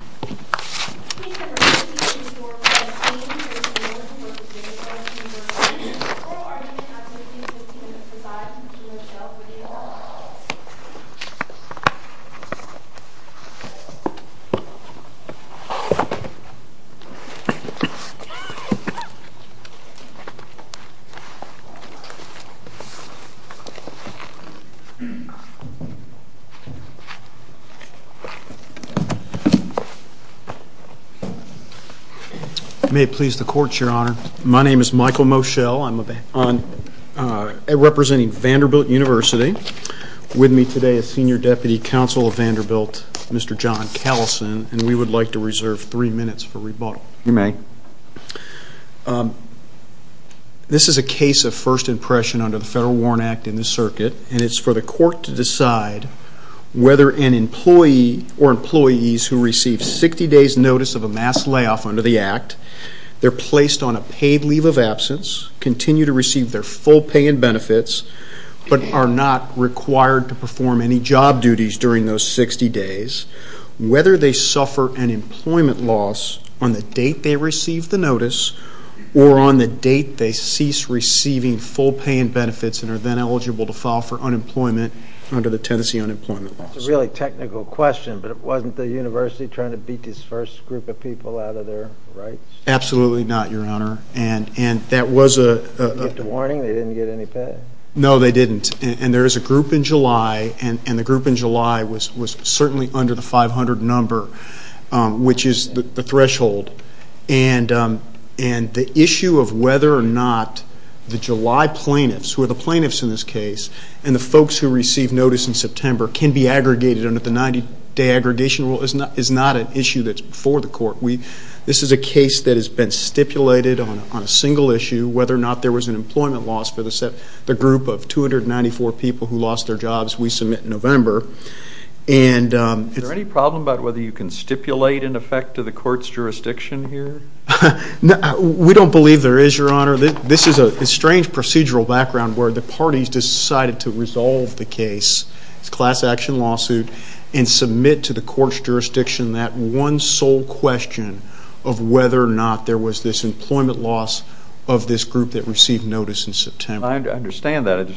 Speaker at P.D. 的話 echo Thank you, nursingassistants. Ladies and gentlemen, a courtesy briefing from I.T. hospital. You may please the court, your honor. My name is Michael Moschel. I'm representing Vanderbilt University. With me today is Senior Deputy Counsel of Vanderbilt, Mr. John Callison, and we would like to reserve three minutes for rebuttal. You may. This is a case of first impression under the Federal Warrant Act in this circuit, and it's for the court to decide whether an employee or employees who receive 60 days notice of a mass layoff under the Act, they're placed on a paid leave of absence, continue to receive their full pay and benefits, but are not required to perform any job duties during those 60 days, whether they suffer an employment loss on the date they receive the notice or on the date they cease receiving full pay and benefits and are then eligible to file for unemployment under the Tennessee Unemployment Laws. That's a really technical question, but it wasn't the university trying to beat this first group of people out of their rights? Absolutely not, your honor. And that was a... They didn't get the warning? They didn't get any pay? No, they didn't. And there is a group in July, and the group in July was certainly under the 500 number, which is the threshold. And the issue of whether or not the July plaintiffs, who are the plaintiffs in this case, and the folks who receive notice in September can be aggregated under the 90-day aggregation rule is not an issue that's before the court. This is a case that has been stipulated on a single issue, whether or not there was an employment loss for the group of 294 people who lost their jobs, we submit in November. Is there any problem about whether you can stipulate in effect to the court's jurisdiction here? We don't believe there is, your honor. This is a strange procedural background where the parties decided to resolve the case, this class action lawsuit, and submit to the court's jurisdiction that one sole question of whether or not there was this employment loss of this group that received notice in September. I understand that.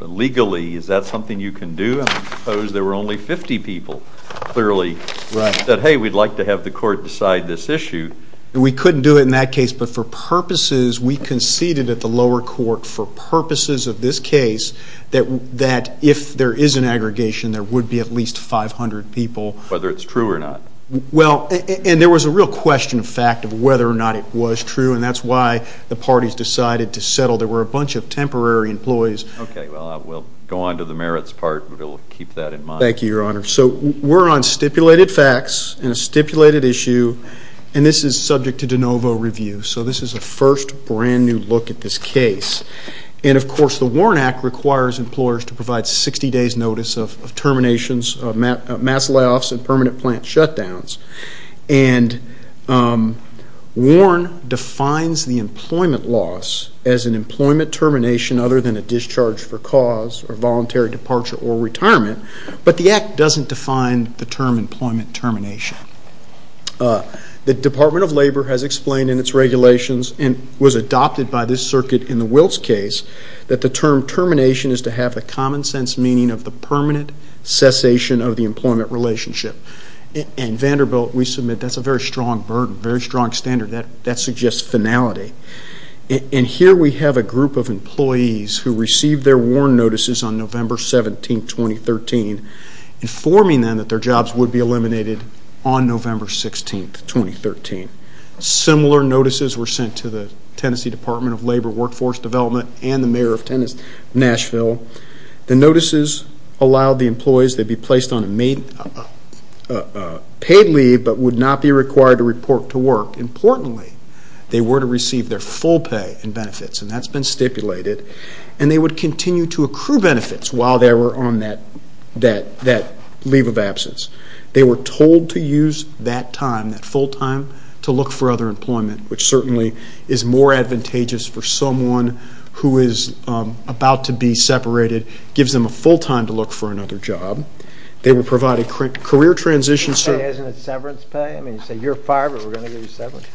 Legally, is that something you can do? I mean, I suppose there were only 50 people, clearly, that, hey, we'd like to have the court decide this issue. We couldn't do it in that case, but for purposes, we conceded at the lower court for purposes of this case that if there is an aggregation, there would be at least 500 people. Whether it's true or not? Well, and there was a real question of fact of whether or not it was true, and that's why the parties decided to settle. There were a bunch of temporary employees. Okay, well, we'll go on to the merits part. We'll keep that in mind. Thank you, your honor. So we're on stipulated facts and a stipulated issue, and this is subject to de novo review. So this is a first brand-new look at this case. And, of course, the WARN Act requires employers to provide 60 days' notice of terminations, mass layoffs, and permanent plant shutdowns. And WARN defines the employment loss as an employment termination other than a discharge for cause or voluntary departure or retirement, but the Act doesn't define the term employment termination. The Department of Labor has explained in its regulations and was adopted by this circuit in the Wiltz case that the term termination is to have a common-sense meaning of the permanent cessation of the employment relationship. In Vanderbilt, we submit that's a very strong burden, very strong standard. That suggests finality. And here we have a group of employees who received their WARN notices on November 17, 2013, informing them that their jobs would be eliminated on November 16, 2013. Similar notices were sent to the Tennessee Department of Labor, Workforce Development, and the mayor of Nashville. The notices allowed the employees to be placed on a paid leave but would not be required to report to work. Importantly, they were to receive their full pay and benefits, and that's been stipulated. And they would continue to accrue benefits while they were on that leave of absence. They were told to use that time, that full time, to look for other employment, which certainly is more advantageous for someone who is about to be separated. It gives them a full time to look for another job. They were provided career transitions. Isn't it severance pay? I mean, you say you're fired, but we're going to give you severance.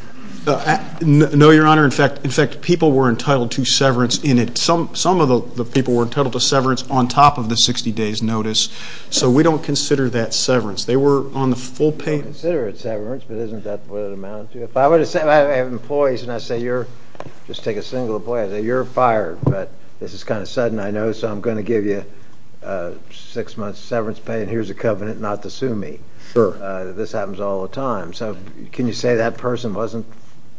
No, Your Honor. In fact, people were entitled to severance in it. Some of the people were entitled to severance on top of the 60 days notice. So we don't consider that severance. They were on the full pay. We consider it severance, but isn't that what it amounted to? If I were to say I have employees and I say, just take a single employee, I'd say, you're fired, but this is kind of sudden, I know, so I'm going to give you six months severance pay and here's a covenant not to sue me. Sure. This happens all the time. So can you say that person wasn't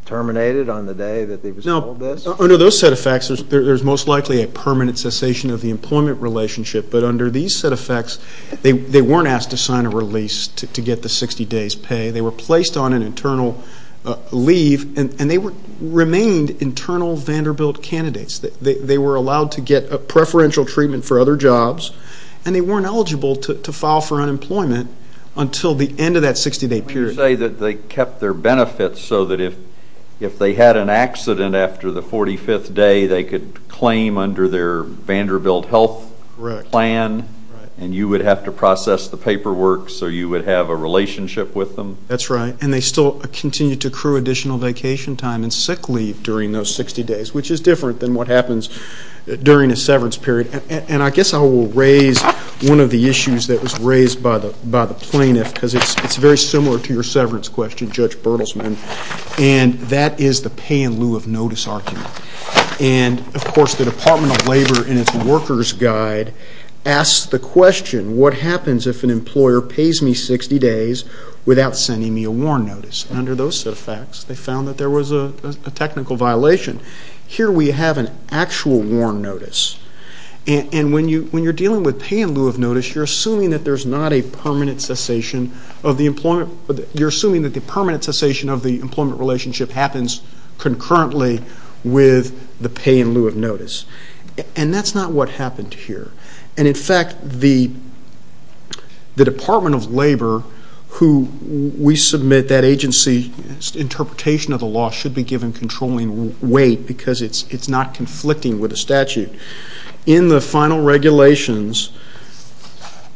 terminated on the day that they were told this? Under those set of facts, there's most likely a permanent cessation of the employment relationship, but under these set of facts, they weren't asked to sign a release to get the 60 days pay. They were placed on an internal leave and they remained internal Vanderbilt candidates. They were allowed to get preferential treatment for other jobs and they weren't eligible to file for unemployment until the end of that 60-day period. Can you say that they kept their benefits so that if they had an accident after the 45th day, they could claim under their Vanderbilt health plan and you would have to process the paperwork so you would have a relationship with them? That's right, and they still continued to accrue additional vacation time and sick leave during those 60 days, which is different than what happens during a severance period. And I guess I will raise one of the issues that was raised by the plaintiff because it's very similar to your severance question, Judge Bertelsman, and that is the pay-in-lieu-of-notice argument. And, of course, the Department of Labor in its worker's guide asks the question, what happens if an employer pays me 60 days without sending me a warrant notice? And under those set of facts, they found that there was a technical violation. Here we have an actual warrant notice, and when you're dealing with pay-in-lieu-of-notice, you're assuming that there's not a permanent cessation of the employment, you're assuming that the permanent cessation of the employment relationship happens concurrently with the pay-in-lieu-of-notice. And that's not what happened here. And, in fact, the Department of Labor, who we submit that agency's interpretation of the law should be given controlling weight because it's not conflicting with the statute. In the final regulations,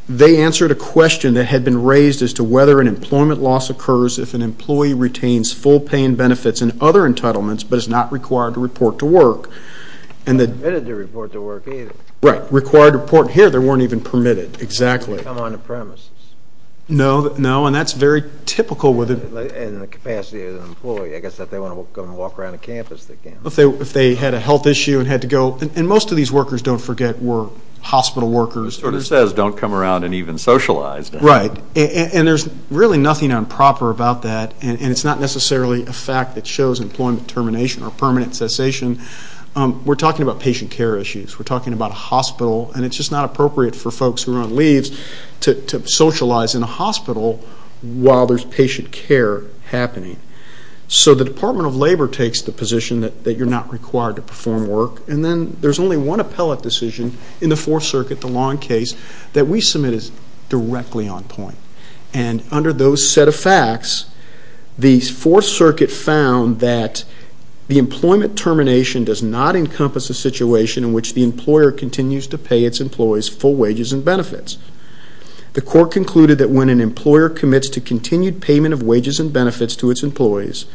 they answered a question that had been raised as to whether an employment loss occurs if an employee retains full pay-in benefits and other entitlements but is not required to report to work. And that... They're not permitted to report to work either. Right. Required to report. Here, they weren't even permitted. Exactly. Come on to premises. No. No. And that's very typical with... In the capacity of the employee. I guess if they want to come and walk around the campus, they can. If they had a health issue and had to go... And most of these workers, don't forget, were hospital workers. It sort of says, don't come around and even socialize. Right. And there's really nothing improper about that. And it's not necessarily a fact that shows employment termination or permanent cessation. We're talking about patient care issues. We're talking about a hospital. And it's just not appropriate for folks who are on leaves to socialize in a hospital while there's patient care happening. So the Department of Labor takes the position that you're not required to perform work. And then there's only one appellate decision in the Fourth Circuit, the long case, that we submit is directly on point. And under those set of facts, the Fourth Circuit found that the employment termination does not encompass a situation in which the employer continues to pay its employees full wages and benefits. The court concluded that when an employer commits to continued payment of wages and benefits to its employees,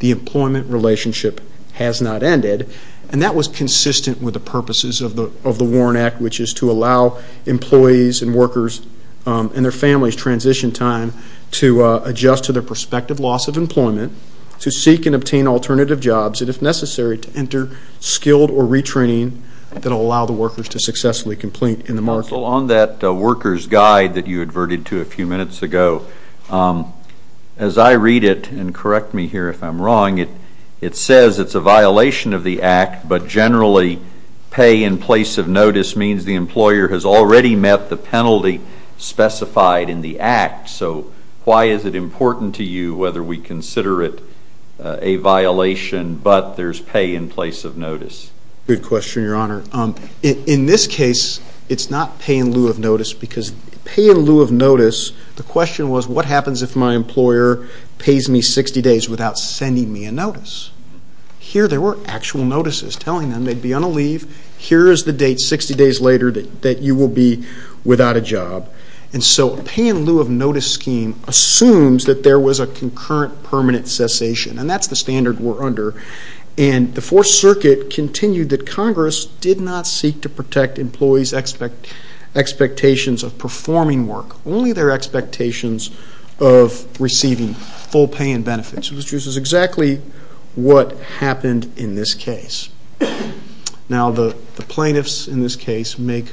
the employment relationship has not ended. And that was consistent with the purposes of the Warren Act, which is to allow employees and workers and their families transition time to adjust to their prospective loss of employment, to seek and obtain alternative jobs, and if necessary, to enter skilled or retraining that will allow the workers to successfully complete in the market. On that worker's guide that you adverted to a few minutes ago, as I read it, and correct me here if I'm wrong, it says it's a violation of the Act, but generally pay in place of notice means the employer has already met the penalty specified in the Act. So why is it important to you whether we consider it a violation but there's pay in place of notice? Good question, Your Honor. In this case, it's not pay in lieu of notice because pay in lieu of notice, the question was, what happens if my employer pays me 60 days without sending me a notice? Here there were actual notices telling them they'd be on a leave. Here is the date 60 days later that you will be without a job. And so pay in lieu of notice scheme assumes that there was a concurrent permanent cessation, and that's the standard we're under. And the Fourth Circuit continued that Congress did not seek to protect employees' expectations of performing work, only their expectations of receiving full pay and benefits. So this is exactly what happened in this case. Now the plaintiffs in this case make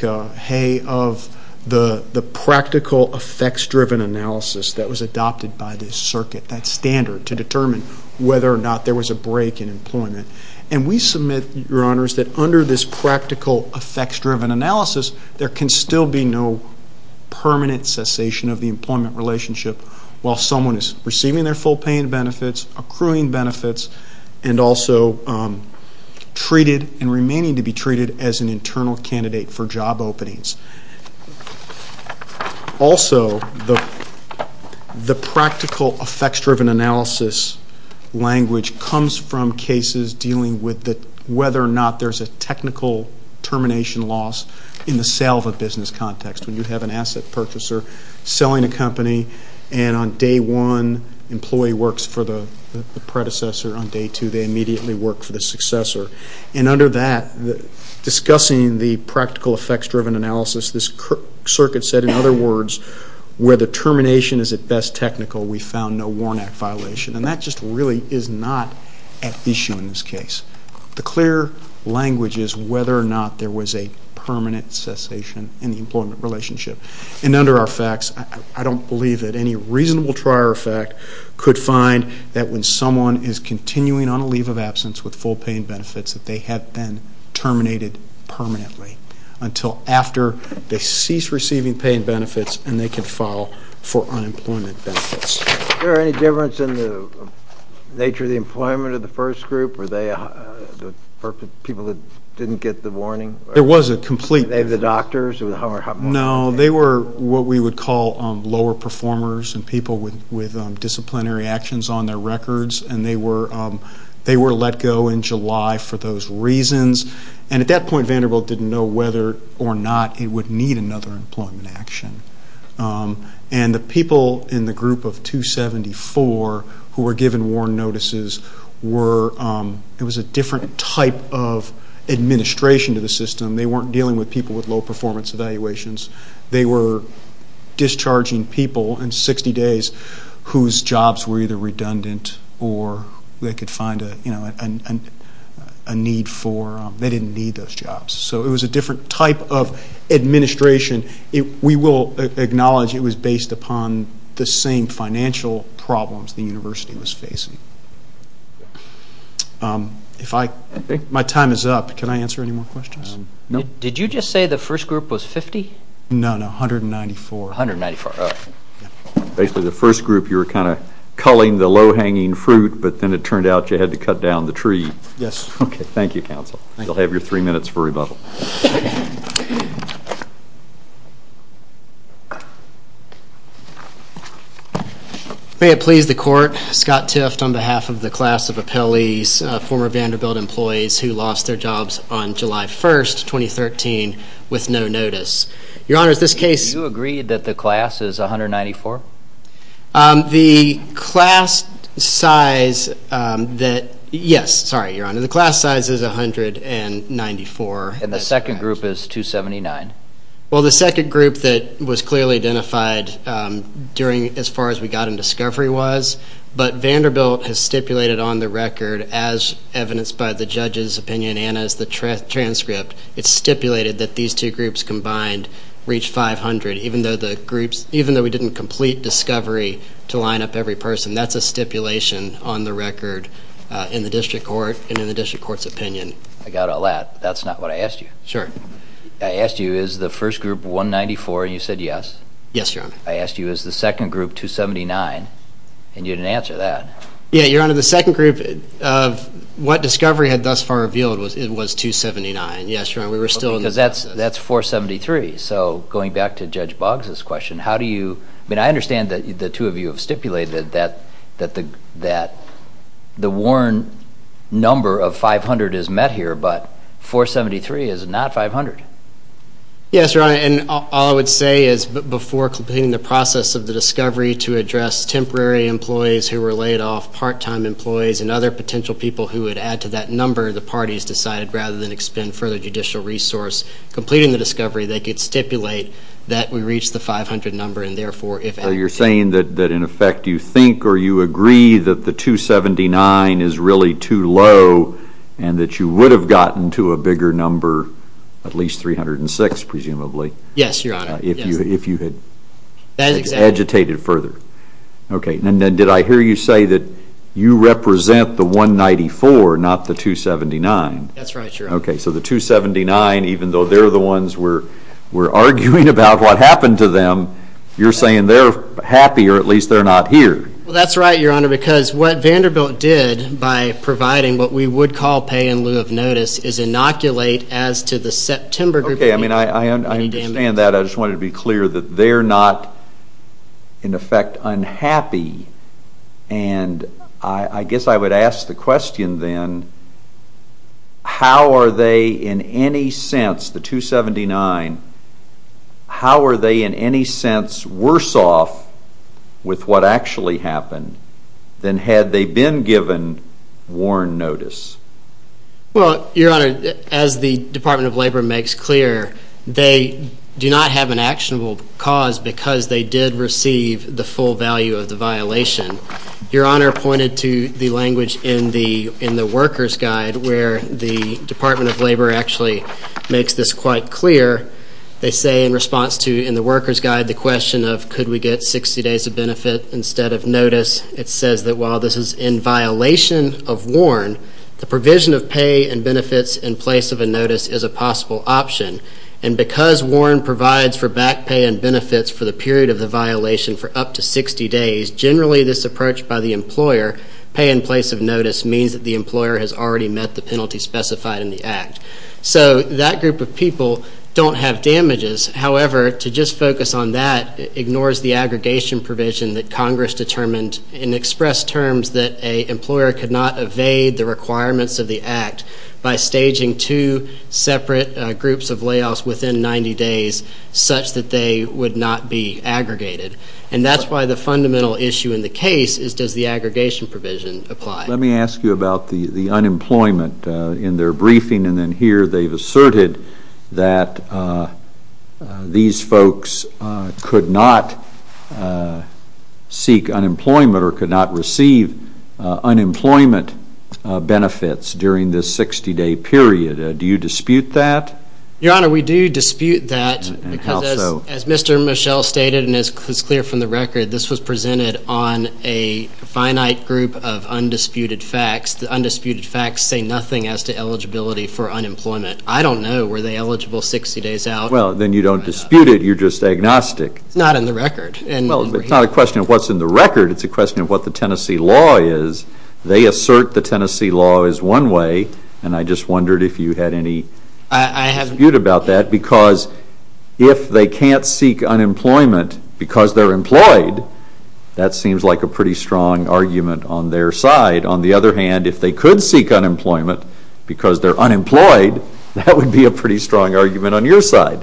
hay of the practical effects-driven analysis that was adopted by this circuit, that standard, to determine whether or not there was a break in employment. And we submit, Your Honors, that under this practical effects-driven analysis, there can still be no permanent cessation of the employment relationship while someone is receiving their full pay and benefits, accruing benefits, and also treated and remaining to be treated as an internal candidate for job openings. Also, the practical effects-driven analysis language comes from cases dealing with whether or not there's a technical termination loss in the sale of a business context. When you have an asset purchaser selling a company, and on day one employee works for the predecessor, on day two they immediately work for the successor. And under that, discussing the practical effects-driven analysis, this circuit said, in other words, where the termination is at best technical, we found no Warnack violation. And that just really is not at issue in this case. The clear language is whether or not there was a permanent cessation in the employment relationship. And under our facts, I don't believe that any reasonable trier of fact could find that when someone is continuing on a leave of absence with full pay and benefits, that they have been terminated permanently until after they cease receiving pay and benefits and they can file for unemployment benefits. Is there any difference in the nature of the employment of the first group? Were they people that didn't get the warning? There was a complete... They were the doctors? No, they were what we would call lower performers and people with disciplinary actions on their records. And they were let go in July for those reasons. And at that point, Vanderbilt didn't know whether or not it would need another employment action. And the people in the group of 274 who were given warn notices were a different type of administration to the system. They weren't dealing with people with low performance evaluations. They were discharging people in 60 days whose jobs were either redundant or they didn't need those jobs. So it was a different type of administration. We will acknowledge it was based upon the same financial problems the university was facing. My time is up. Can I answer any more questions? No. Did you just say the first group was 50? No, 194. 194, all right. Basically, the first group you were kind of culling the low-hanging fruit, but then it turned out you had to cut down the tree. Yes. Okay, thank you, counsel. You'll have your three minutes for rebuttal. May it please the court, Scott Tift on behalf of the class of appellees, former Vanderbilt employees who lost their jobs on July 1st, 2013, with no notice. Your Honor, is this case? Do you agree that the class is 194? The class size that yes, sorry, Your Honor. And that's the class size? Yes. And the second group is 279? Well, the second group that was clearly identified as far as we got in discovery was, but Vanderbilt has stipulated on the record, as evidenced by the judge's opinion and as the transcript, it's stipulated that these two groups combined reach 500, even though we didn't complete discovery to line up every person. That's a stipulation on the record in the district court and in the district court's opinion. I got all that. That's not what I asked you. Sure. I asked you, is the first group 194? And you said yes. Yes, Your Honor. I asked you, is the second group 279? And you didn't answer that. Yeah, Your Honor, the second group of what discovery had thus far revealed was it was 279. Yes, Your Honor. We were still in the process. Because that's 473. So going back to Judge Boggs' question, how do you, I mean, I understand that the two of you have stipulated that the worn number of 500 is met here, but 473 is not 500. Yes, Your Honor. And all I would say is before completing the process of the discovery to address temporary employees who were laid off, part-time employees, and other potential people who would add to that number, the parties decided rather than expend further judicial resource completing the discovery, they could stipulate that we reach the 500 number and, therefore, if at all. So you're saying that in effect you think or you agree that the 279 is really too low and that you would have gotten to a bigger number, at least 306 presumably. Yes, Your Honor. If you had agitated further. Okay, and then did I hear you say that you represent the 194, not the 279? That's right, Your Honor. Okay, so the 279, even though they're the ones we're arguing about what happened to them, you're saying they're happy or at least they're not here. Well, that's right, Your Honor, because what Vanderbilt did by providing what we would call pay in lieu of notice is inoculate as to the September group of people. Okay, I understand that. I just wanted to be clear that they're not in effect unhappy. And I guess I would ask the question then, how are they in any sense, the 279, how are they in any sense worse off with what actually happened than had they been given warn notice? Well, Your Honor, as the Department of Labor makes clear, they do not have an actionable cause because they did receive the full value of the violation. Your Honor pointed to the language in the worker's guide where the Department of Labor actually makes this quite clear. They say in response to, in the worker's guide, the question of could we get 60 days of benefit instead of notice, it says that while this is in violation of warn, the provision of pay and benefits in place of a notice is a possible option. And because warn provides for back pay and benefits for the period of the violation for up to 60 days, generally this approach by the employer, pay in place of notice, means that the employer has already met the penalty specified in the act. So that group of people don't have damages. However, to just focus on that ignores the aggregation provision that Congress determined in express terms that an employer could not evade the requirements of the act by staging two separate groups of layoffs within 90 days such that they would not be aggregated. And that's why the fundamental issue in the case is does the aggregation provision apply? Let me ask you about the unemployment in their briefing. And then here they've asserted that these folks could not seek unemployment or could not receive unemployment benefits during this 60-day period. Do you dispute that? Your Honor, we do dispute that because as Mr. Michel stated and it's clear from the record, this was presented on a finite group of undisputed facts. The undisputed facts say nothing as to eligibility for unemployment. I don't know. Were they eligible 60 days out? Well, then you don't dispute it. You're just agnostic. It's not in the record. Well, it's not a question of what's in the record. It's a question of what the Tennessee law is. They assert the Tennessee law is one way. And I just wondered if you had any dispute about that. Because if they can't seek unemployment because they're employed, that seems like a pretty strong argument on their side. On the other hand, if they could seek unemployment because they're unemployed, that would be a pretty strong argument on your side.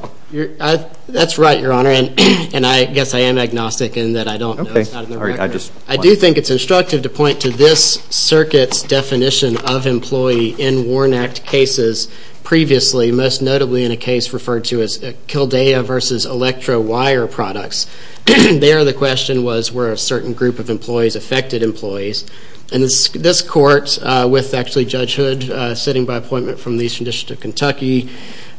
That's right, Your Honor. And I guess I am agnostic in that I don't know. It's not in the record. I do think it's instructive to point to this circuit's definition of employee in WARN Act cases previously, most notably in a case referred to as Kildea v. Electro Wire Products. There the question was were a certain group of employees affected employees? And this court, with actually Judge Hood sitting by appointment from the Eastern District of Kentucky,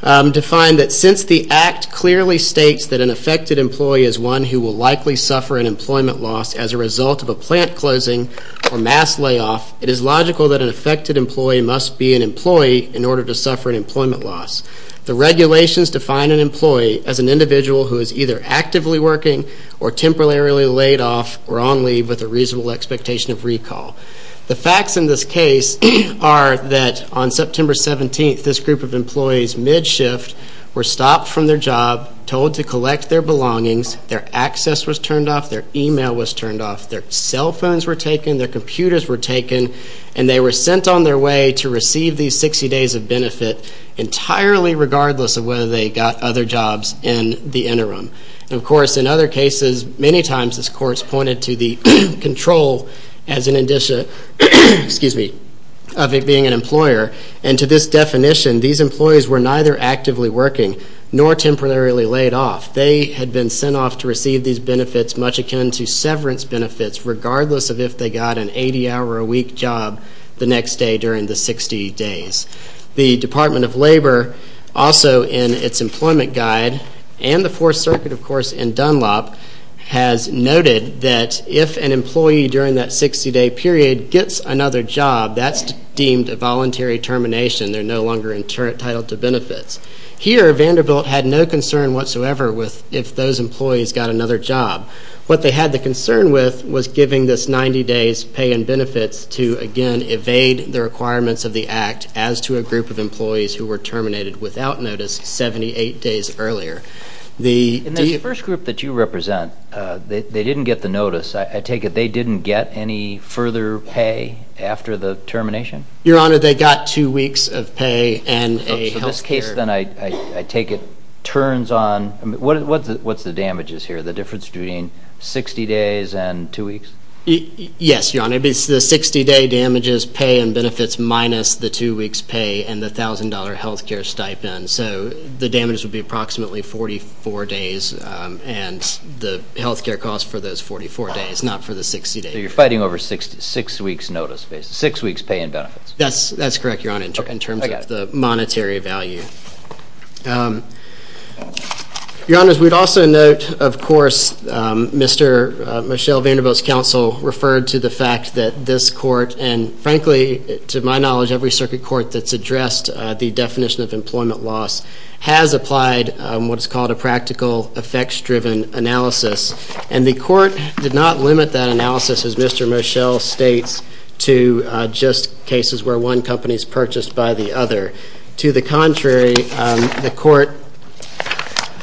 defined that since the Act clearly states that an affected employee is one who will likely suffer an employment loss as a result of a plant closing or mass layoff, it is logical that an affected employee must be an employee in order to suffer an employment loss. The regulations define an employee as an individual who is either actively working or temporarily laid off or on leave with a reasonable expectation of recall. The facts in this case are that on September 17th, this group of employees mid-shift were stopped from their job, told to collect their belongings, their access was turned off, their email was turned off, their cell phones were taken, their computers were taken, and they were sent on their way to receive these 60 days of benefit entirely regardless of whether they got other jobs in the interim. And, of course, in other cases, many times this court has pointed to the control as an indicia, excuse me, of it being an employer. And to this definition, these employees were neither actively working nor temporarily laid off. They had been sent off to receive these benefits much akin to severance if they got an 80-hour-a-week job the next day during the 60 days. The Department of Labor, also in its employment guide, and the Fourth Circuit, of course, in Dunlop, has noted that if an employee during that 60-day period gets another job, that's deemed a voluntary termination. They're no longer entitled to benefits. Here, Vanderbilt had no concern whatsoever with if those employees got another job. What they had the concern with was giving this 90 days' pay and benefits to, again, evade the requirements of the Act as to a group of employees who were terminated without notice 78 days earlier. And that first group that you represent, they didn't get the notice. I take it they didn't get any further pay after the termination? Your Honor, they got two weeks of pay and a health care. So this case, then, I take it, turns on. What's the damages here? The difference between 60 days and two weeks? Yes, Your Honor. It's the 60-day damages, pay, and benefits, minus the two weeks' pay and the $1,000 health care stipend. So the damages would be approximately 44 days and the health care costs for those 44 days, not for the 60 days. So you're fighting over six weeks' pay and benefits? That's correct, Your Honor, in terms of the monetary value. Your Honor, we'd also note, of course, Mr. Michelle Vanderbilt's counsel referred to the fact that this court, and frankly, to my knowledge, every circuit court that's addressed the definition of employment loss, has applied what's called a practical effects-driven analysis. And the court did not limit that analysis, as Mr. Michelle states, to just cases where one company is purchased by the other. To the contrary, the court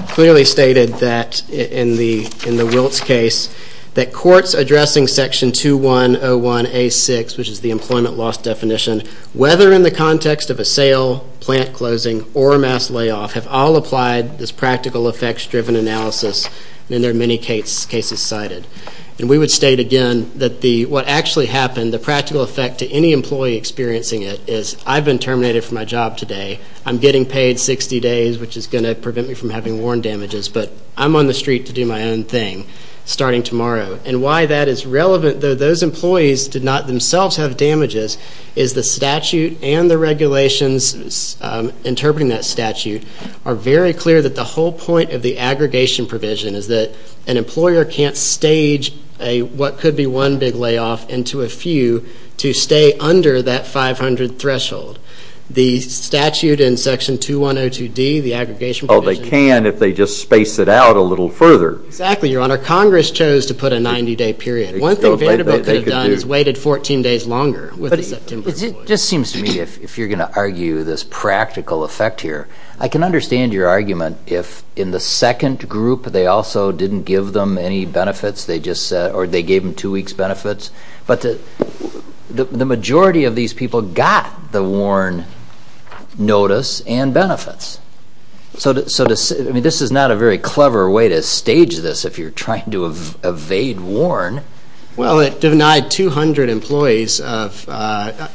clearly stated in the Wiltz case that courts addressing Section 2101A6, which is the employment loss definition, whether in the context of a sale, plant closing, or a mass layoff, have all applied this practical effects-driven analysis in their many cases cited. And we would state again that what actually happened, the practical effect to any employee experiencing it, is I've been terminated from my job today, I'm getting paid 60 days, which is going to prevent me from having worn damages, but I'm on the street to do my own thing starting tomorrow. And why that is relevant, though those employees did not themselves have damages, is the statute and the regulations interpreting that statute are very clear that the whole point of the aggregation provision is that an employer can't stage what could be one big layoff into a few to stay under that 500 threshold. The statute in Section 2102D, the aggregation provision... Oh, they can if they just space it out a little further. Exactly, Your Honor. Congress chose to put a 90-day period. One thing Vanderbilt could have done is waited 14 days longer. It just seems to me, if you're going to argue this practical effect here, I can understand your argument if in the second group or they gave them two weeks' benefits, but the majority of these people got the worn notice and benefits. So this is not a very clever way to stage this if you're trying to evade worn. Well, it denied 200 employees of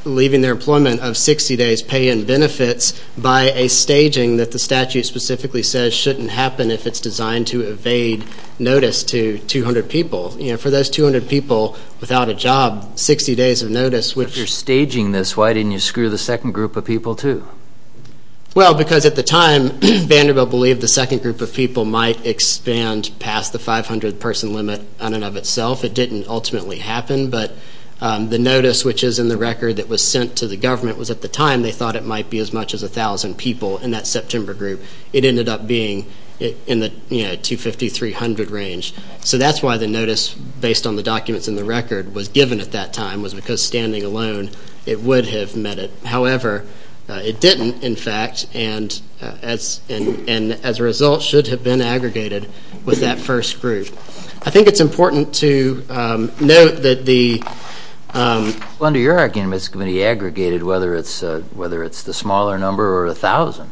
leaving their employment of 60 days pay and benefits by a staging that the statute specifically says shouldn't happen if it's designed to evade notice to 200 people. For those 200 people without a job, 60 days of notice... If you're staging this, why didn't you screw the second group of people too? Well, because at the time Vanderbilt believed the second group of people might expand past the 500-person limit on and of itself. It didn't ultimately happen, but the notice which is in the record that was sent to the government was at the time they thought it might be as much as 1,000 people in that September group. It ended up being in the 250-300 range. So that's why the notice, based on the documents in the record, was given at that time was because standing alone it would have met it. However, it didn't, in fact, and as a result should have been aggregated with that first group. I think it's important to note that the... Well, under your argument, it's going to be aggregated whether it's the smaller number or 1,000.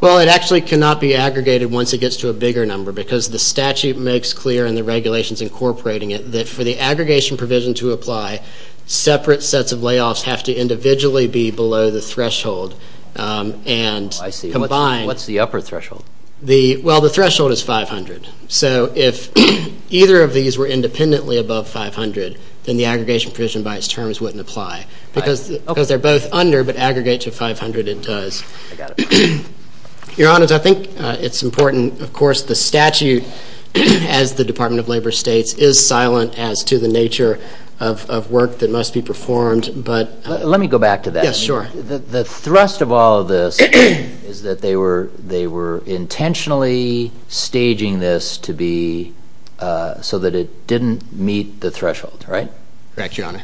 Well, it actually cannot be aggregated once it gets to a bigger number because the statute makes clear and the regulations incorporating it that for the aggregation provision to apply, separate sets of layoffs have to individually be below the threshold and combine... I see. What's the upper threshold? Well, the threshold is 500. So if either of these were independently above 500, then the aggregation provision by its terms wouldn't apply because they're both under, but aggregate to 500 it does. I got it. Your Honors, I think it's important, of course, the statute, as the Department of Labor states, is silent as to the nature of work that must be performed, but... Let me go back to that. Yes, sure. The thrust of all of this is that they were intentionally staging this so that it didn't meet the threshold, right? Correct, Your Honor.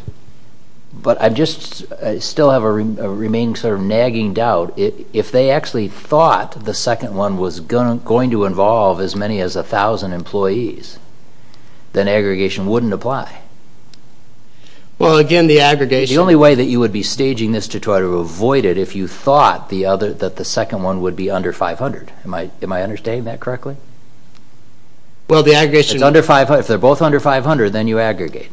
But I just still have a remaining sort of nagging doubt. If they actually thought the second one was going to involve as many as 1,000 employees, then aggregation wouldn't apply. Well, again, the aggregation... The only way that you would be staging this to try to avoid it if you thought that the second one would be under 500. Am I understanding that correctly? Well, the aggregation... If they're both under 500, then you aggregate.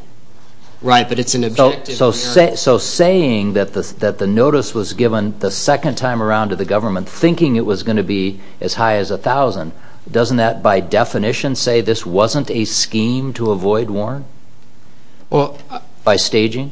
Right, but it's an objective... So saying that the notice was given the second time around to the government, thinking it was going to be as high as 1,000, doesn't that, by definition, say this wasn't a scheme to avoid, Warren? By staging?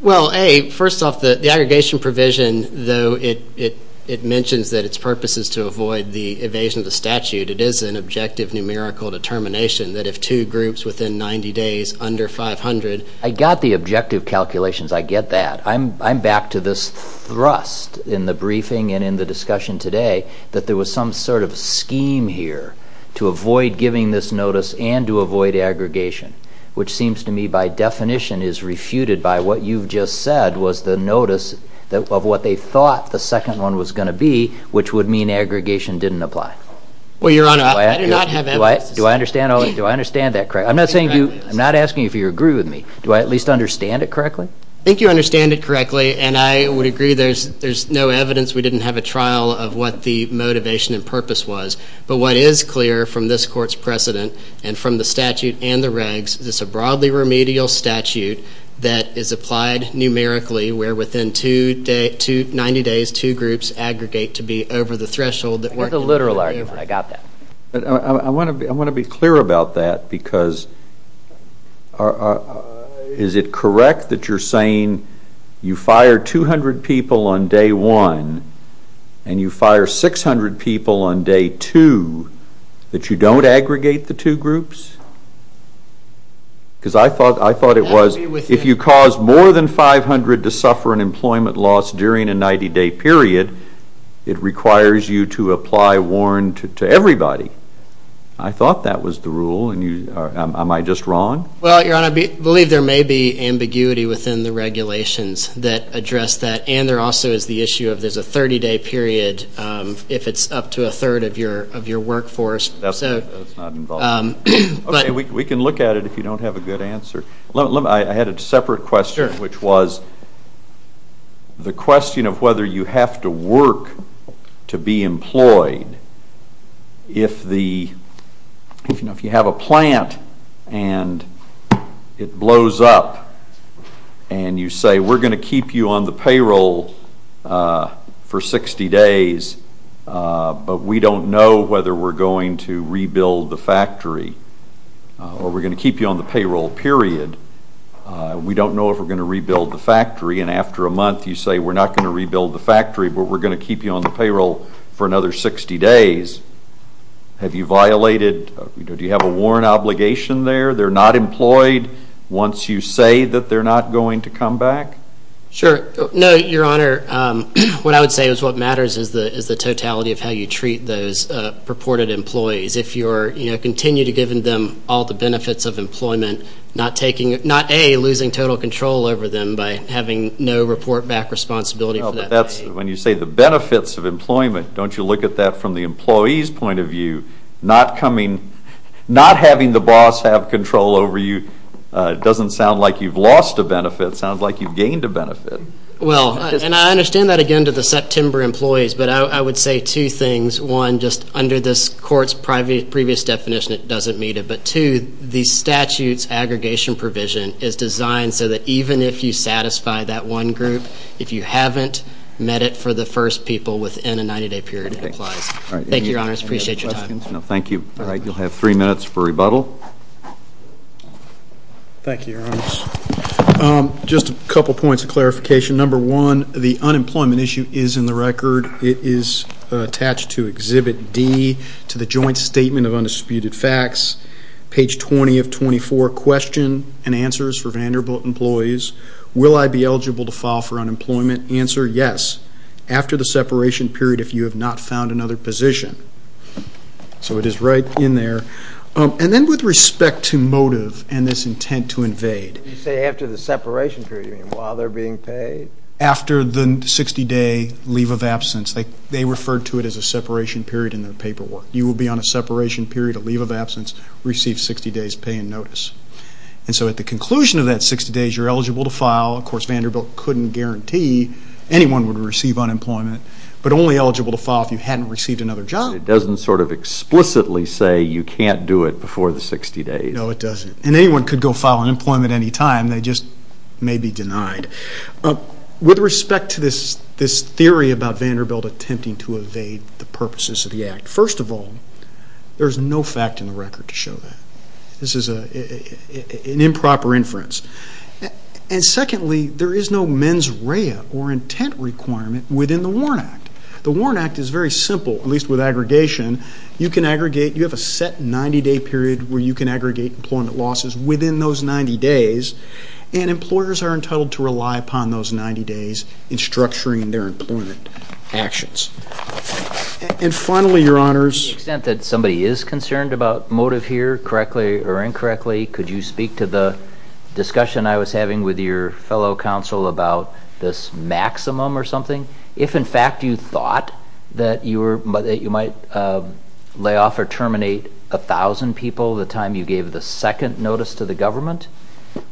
Well, A, first off, the aggregation provision, though it mentions that its purpose is to avoid the evasion of the statute, it is an objective numerical determination that if two groups within 90 days, under 500... I got the objective calculations. I get that. I'm back to this thrust in the briefing and in the discussion today that there was some sort of scheme here to avoid giving this notice and to avoid aggregation, which seems to me by definition is refuted by what you've just said was the notice of what they thought the second one was going to be, which would mean aggregation didn't apply. Well, Your Honor, I do not have evidence to say that. Do I understand that correctly? I'm not asking if you agree with me. Do I at least understand it correctly? I think you understand it correctly, and I would agree there's no evidence we didn't have a trial of what the motivation and purpose was. But what is clear from this Court's precedent and from the statute and the regs is it's a broadly remedial statute that is applied numerically where within 90 days two groups aggregate to be over the threshold. I got the literal argument. I got that. I want to be clear about that because is it correct that you're saying you fire 200 people on day one and you fire 600 people on day two that you don't aggregate the two groups? Because I thought it was if you cause more than 500 to suffer an employment loss during a 90-day period, it requires you to apply warrant to everybody. I thought that was the rule. Am I just wrong? Well, Your Honor, I believe there may be ambiguity within the regulations that address that, and there also is the issue of there's a 30-day period if it's up to a third of your workforce. That's not involved. Okay, we can look at it if you don't have a good answer. I had a separate question, which was the question of whether you have to work to be employed. If you have a plant and it blows up, and you say we're going to keep you on the payroll for 60 days, but we don't know whether we're going to rebuild the factory or we're going to keep you on the payroll, period, we don't know if we're going to rebuild the factory, and after a month you say we're not going to rebuild the factory, but we're going to keep you on the payroll for another 60 days. Do you have a warrant obligation there? They're not employed once you say that they're not going to come back? Sure. No, Your Honor. What I would say is what matters is the totality of how you treat those purported employees. If you continue to give them all the benefits of employment, not A, losing total control over them by having no report back responsibility. When you say the benefits of employment, don't you look at that from the employee's point of view? Not having the boss have control over you doesn't sound like you've lost a benefit. It sounds like you've gained a benefit. Well, and I understand that, again, to the September employees, but I would say two things. One, just under this Court's previous definition, it doesn't meet it. But two, the statute's aggregation provision is designed so that even if you satisfy that one group, if you haven't met it for the first people within a 90-day period, it applies. Thank you, Your Honors. Appreciate your time. Thank you. All right, you'll have three minutes for rebuttal. Thank you, Your Honors. Just a couple points of clarification. Number one, the unemployment issue is in the record. It is attached to Exhibit D to the Joint Statement of Undisputed Facts, page 20 of 24, question and answers for Vanderbilt employees. Will I be eligible to file for unemployment? Answer, yes, after the separation period if you have not found another position. So it is right in there. And then with respect to motive and this intent to invade. You say after the separation period, you mean while they're being paid? After the 60-day leave of absence. They refer to it as a separation period in their paperwork. You will be on a separation period, a leave of absence, receive 60 days' pay and notice. And so at the conclusion of that 60 days, you're eligible to file. Of course, Vanderbilt couldn't guarantee anyone would receive unemployment, but only eligible to file if you hadn't received another job. It doesn't sort of explicitly say you can't do it before the 60 days. No, it doesn't. And anyone could go file unemployment any time. They just may be denied. With respect to this theory about Vanderbilt attempting to evade the purposes of the act, first of all, there's no fact in the record to show that. This is an improper inference. And secondly, there is no mens rea or intent requirement within the WARN Act. The WARN Act is very simple, at least with aggregation. You can aggregate. You have a set 90-day period where you can aggregate employment losses within those 90 days, and employers are entitled to rely upon those 90 days in structuring their employment actions. And finally, Your Honors. To the extent that somebody is concerned about motive here, correctly or incorrectly, could you speak to the discussion I was having with your fellow counsel about this maximum or something? If, in fact, you thought that you might lay off or terminate 1,000 people the time you gave the second notice to the government,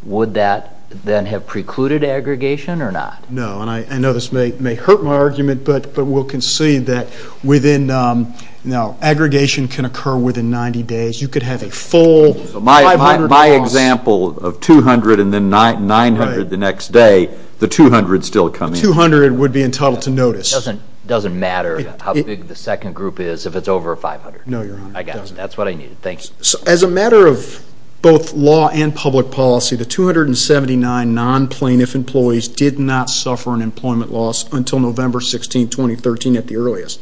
would that then have precluded aggregation or not? No. And I know this may hurt my argument, but we'll concede that aggregation can occur within 90 days. You could have a full 500 jobs. My example of 200 and then 900 the next day, the 200 still coming in. The 200 would be entitled to notice. It doesn't matter how big the second group is if it's over 500. No, Your Honor. I got it. That's what I needed. Thank you. As a matter of both law and public policy, the 279 non-plaintiff employees did not suffer an employment loss until November 16, 2013 at the earliest.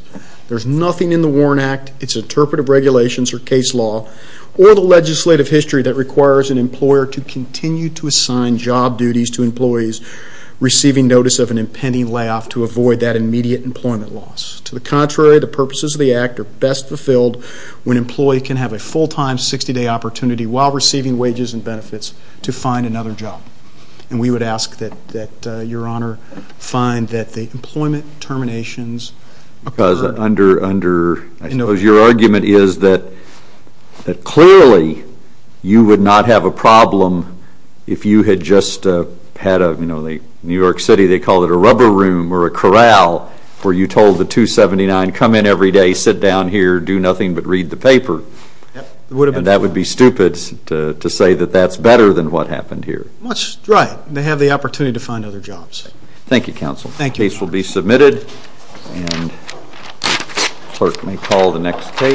There's nothing in the WARN Act, its interpretive regulations or case law, or the legislative history that requires an employer to continue to assign job duties to employees receiving notice of an impending layoff to avoid that immediate employment loss. To the contrary, the purposes of the act are best fulfilled when an employee can have a full-time 60-day opportunity while receiving wages and benefits to find another job. And we would ask that Your Honor find that the employment terminations occurred. I suppose your argument is that clearly you would not have a problem if you had just had a New York City, they call it a rubber room or a corral, where you told the 279 come in every day, sit down here, do nothing but read the paper. That would be stupid to say that that's better than what happened here. Right. They have the opportunity to find other jobs. Thank you, Counsel. Thank you, Your Honor. The case is submitted, and the clerk may call the next case.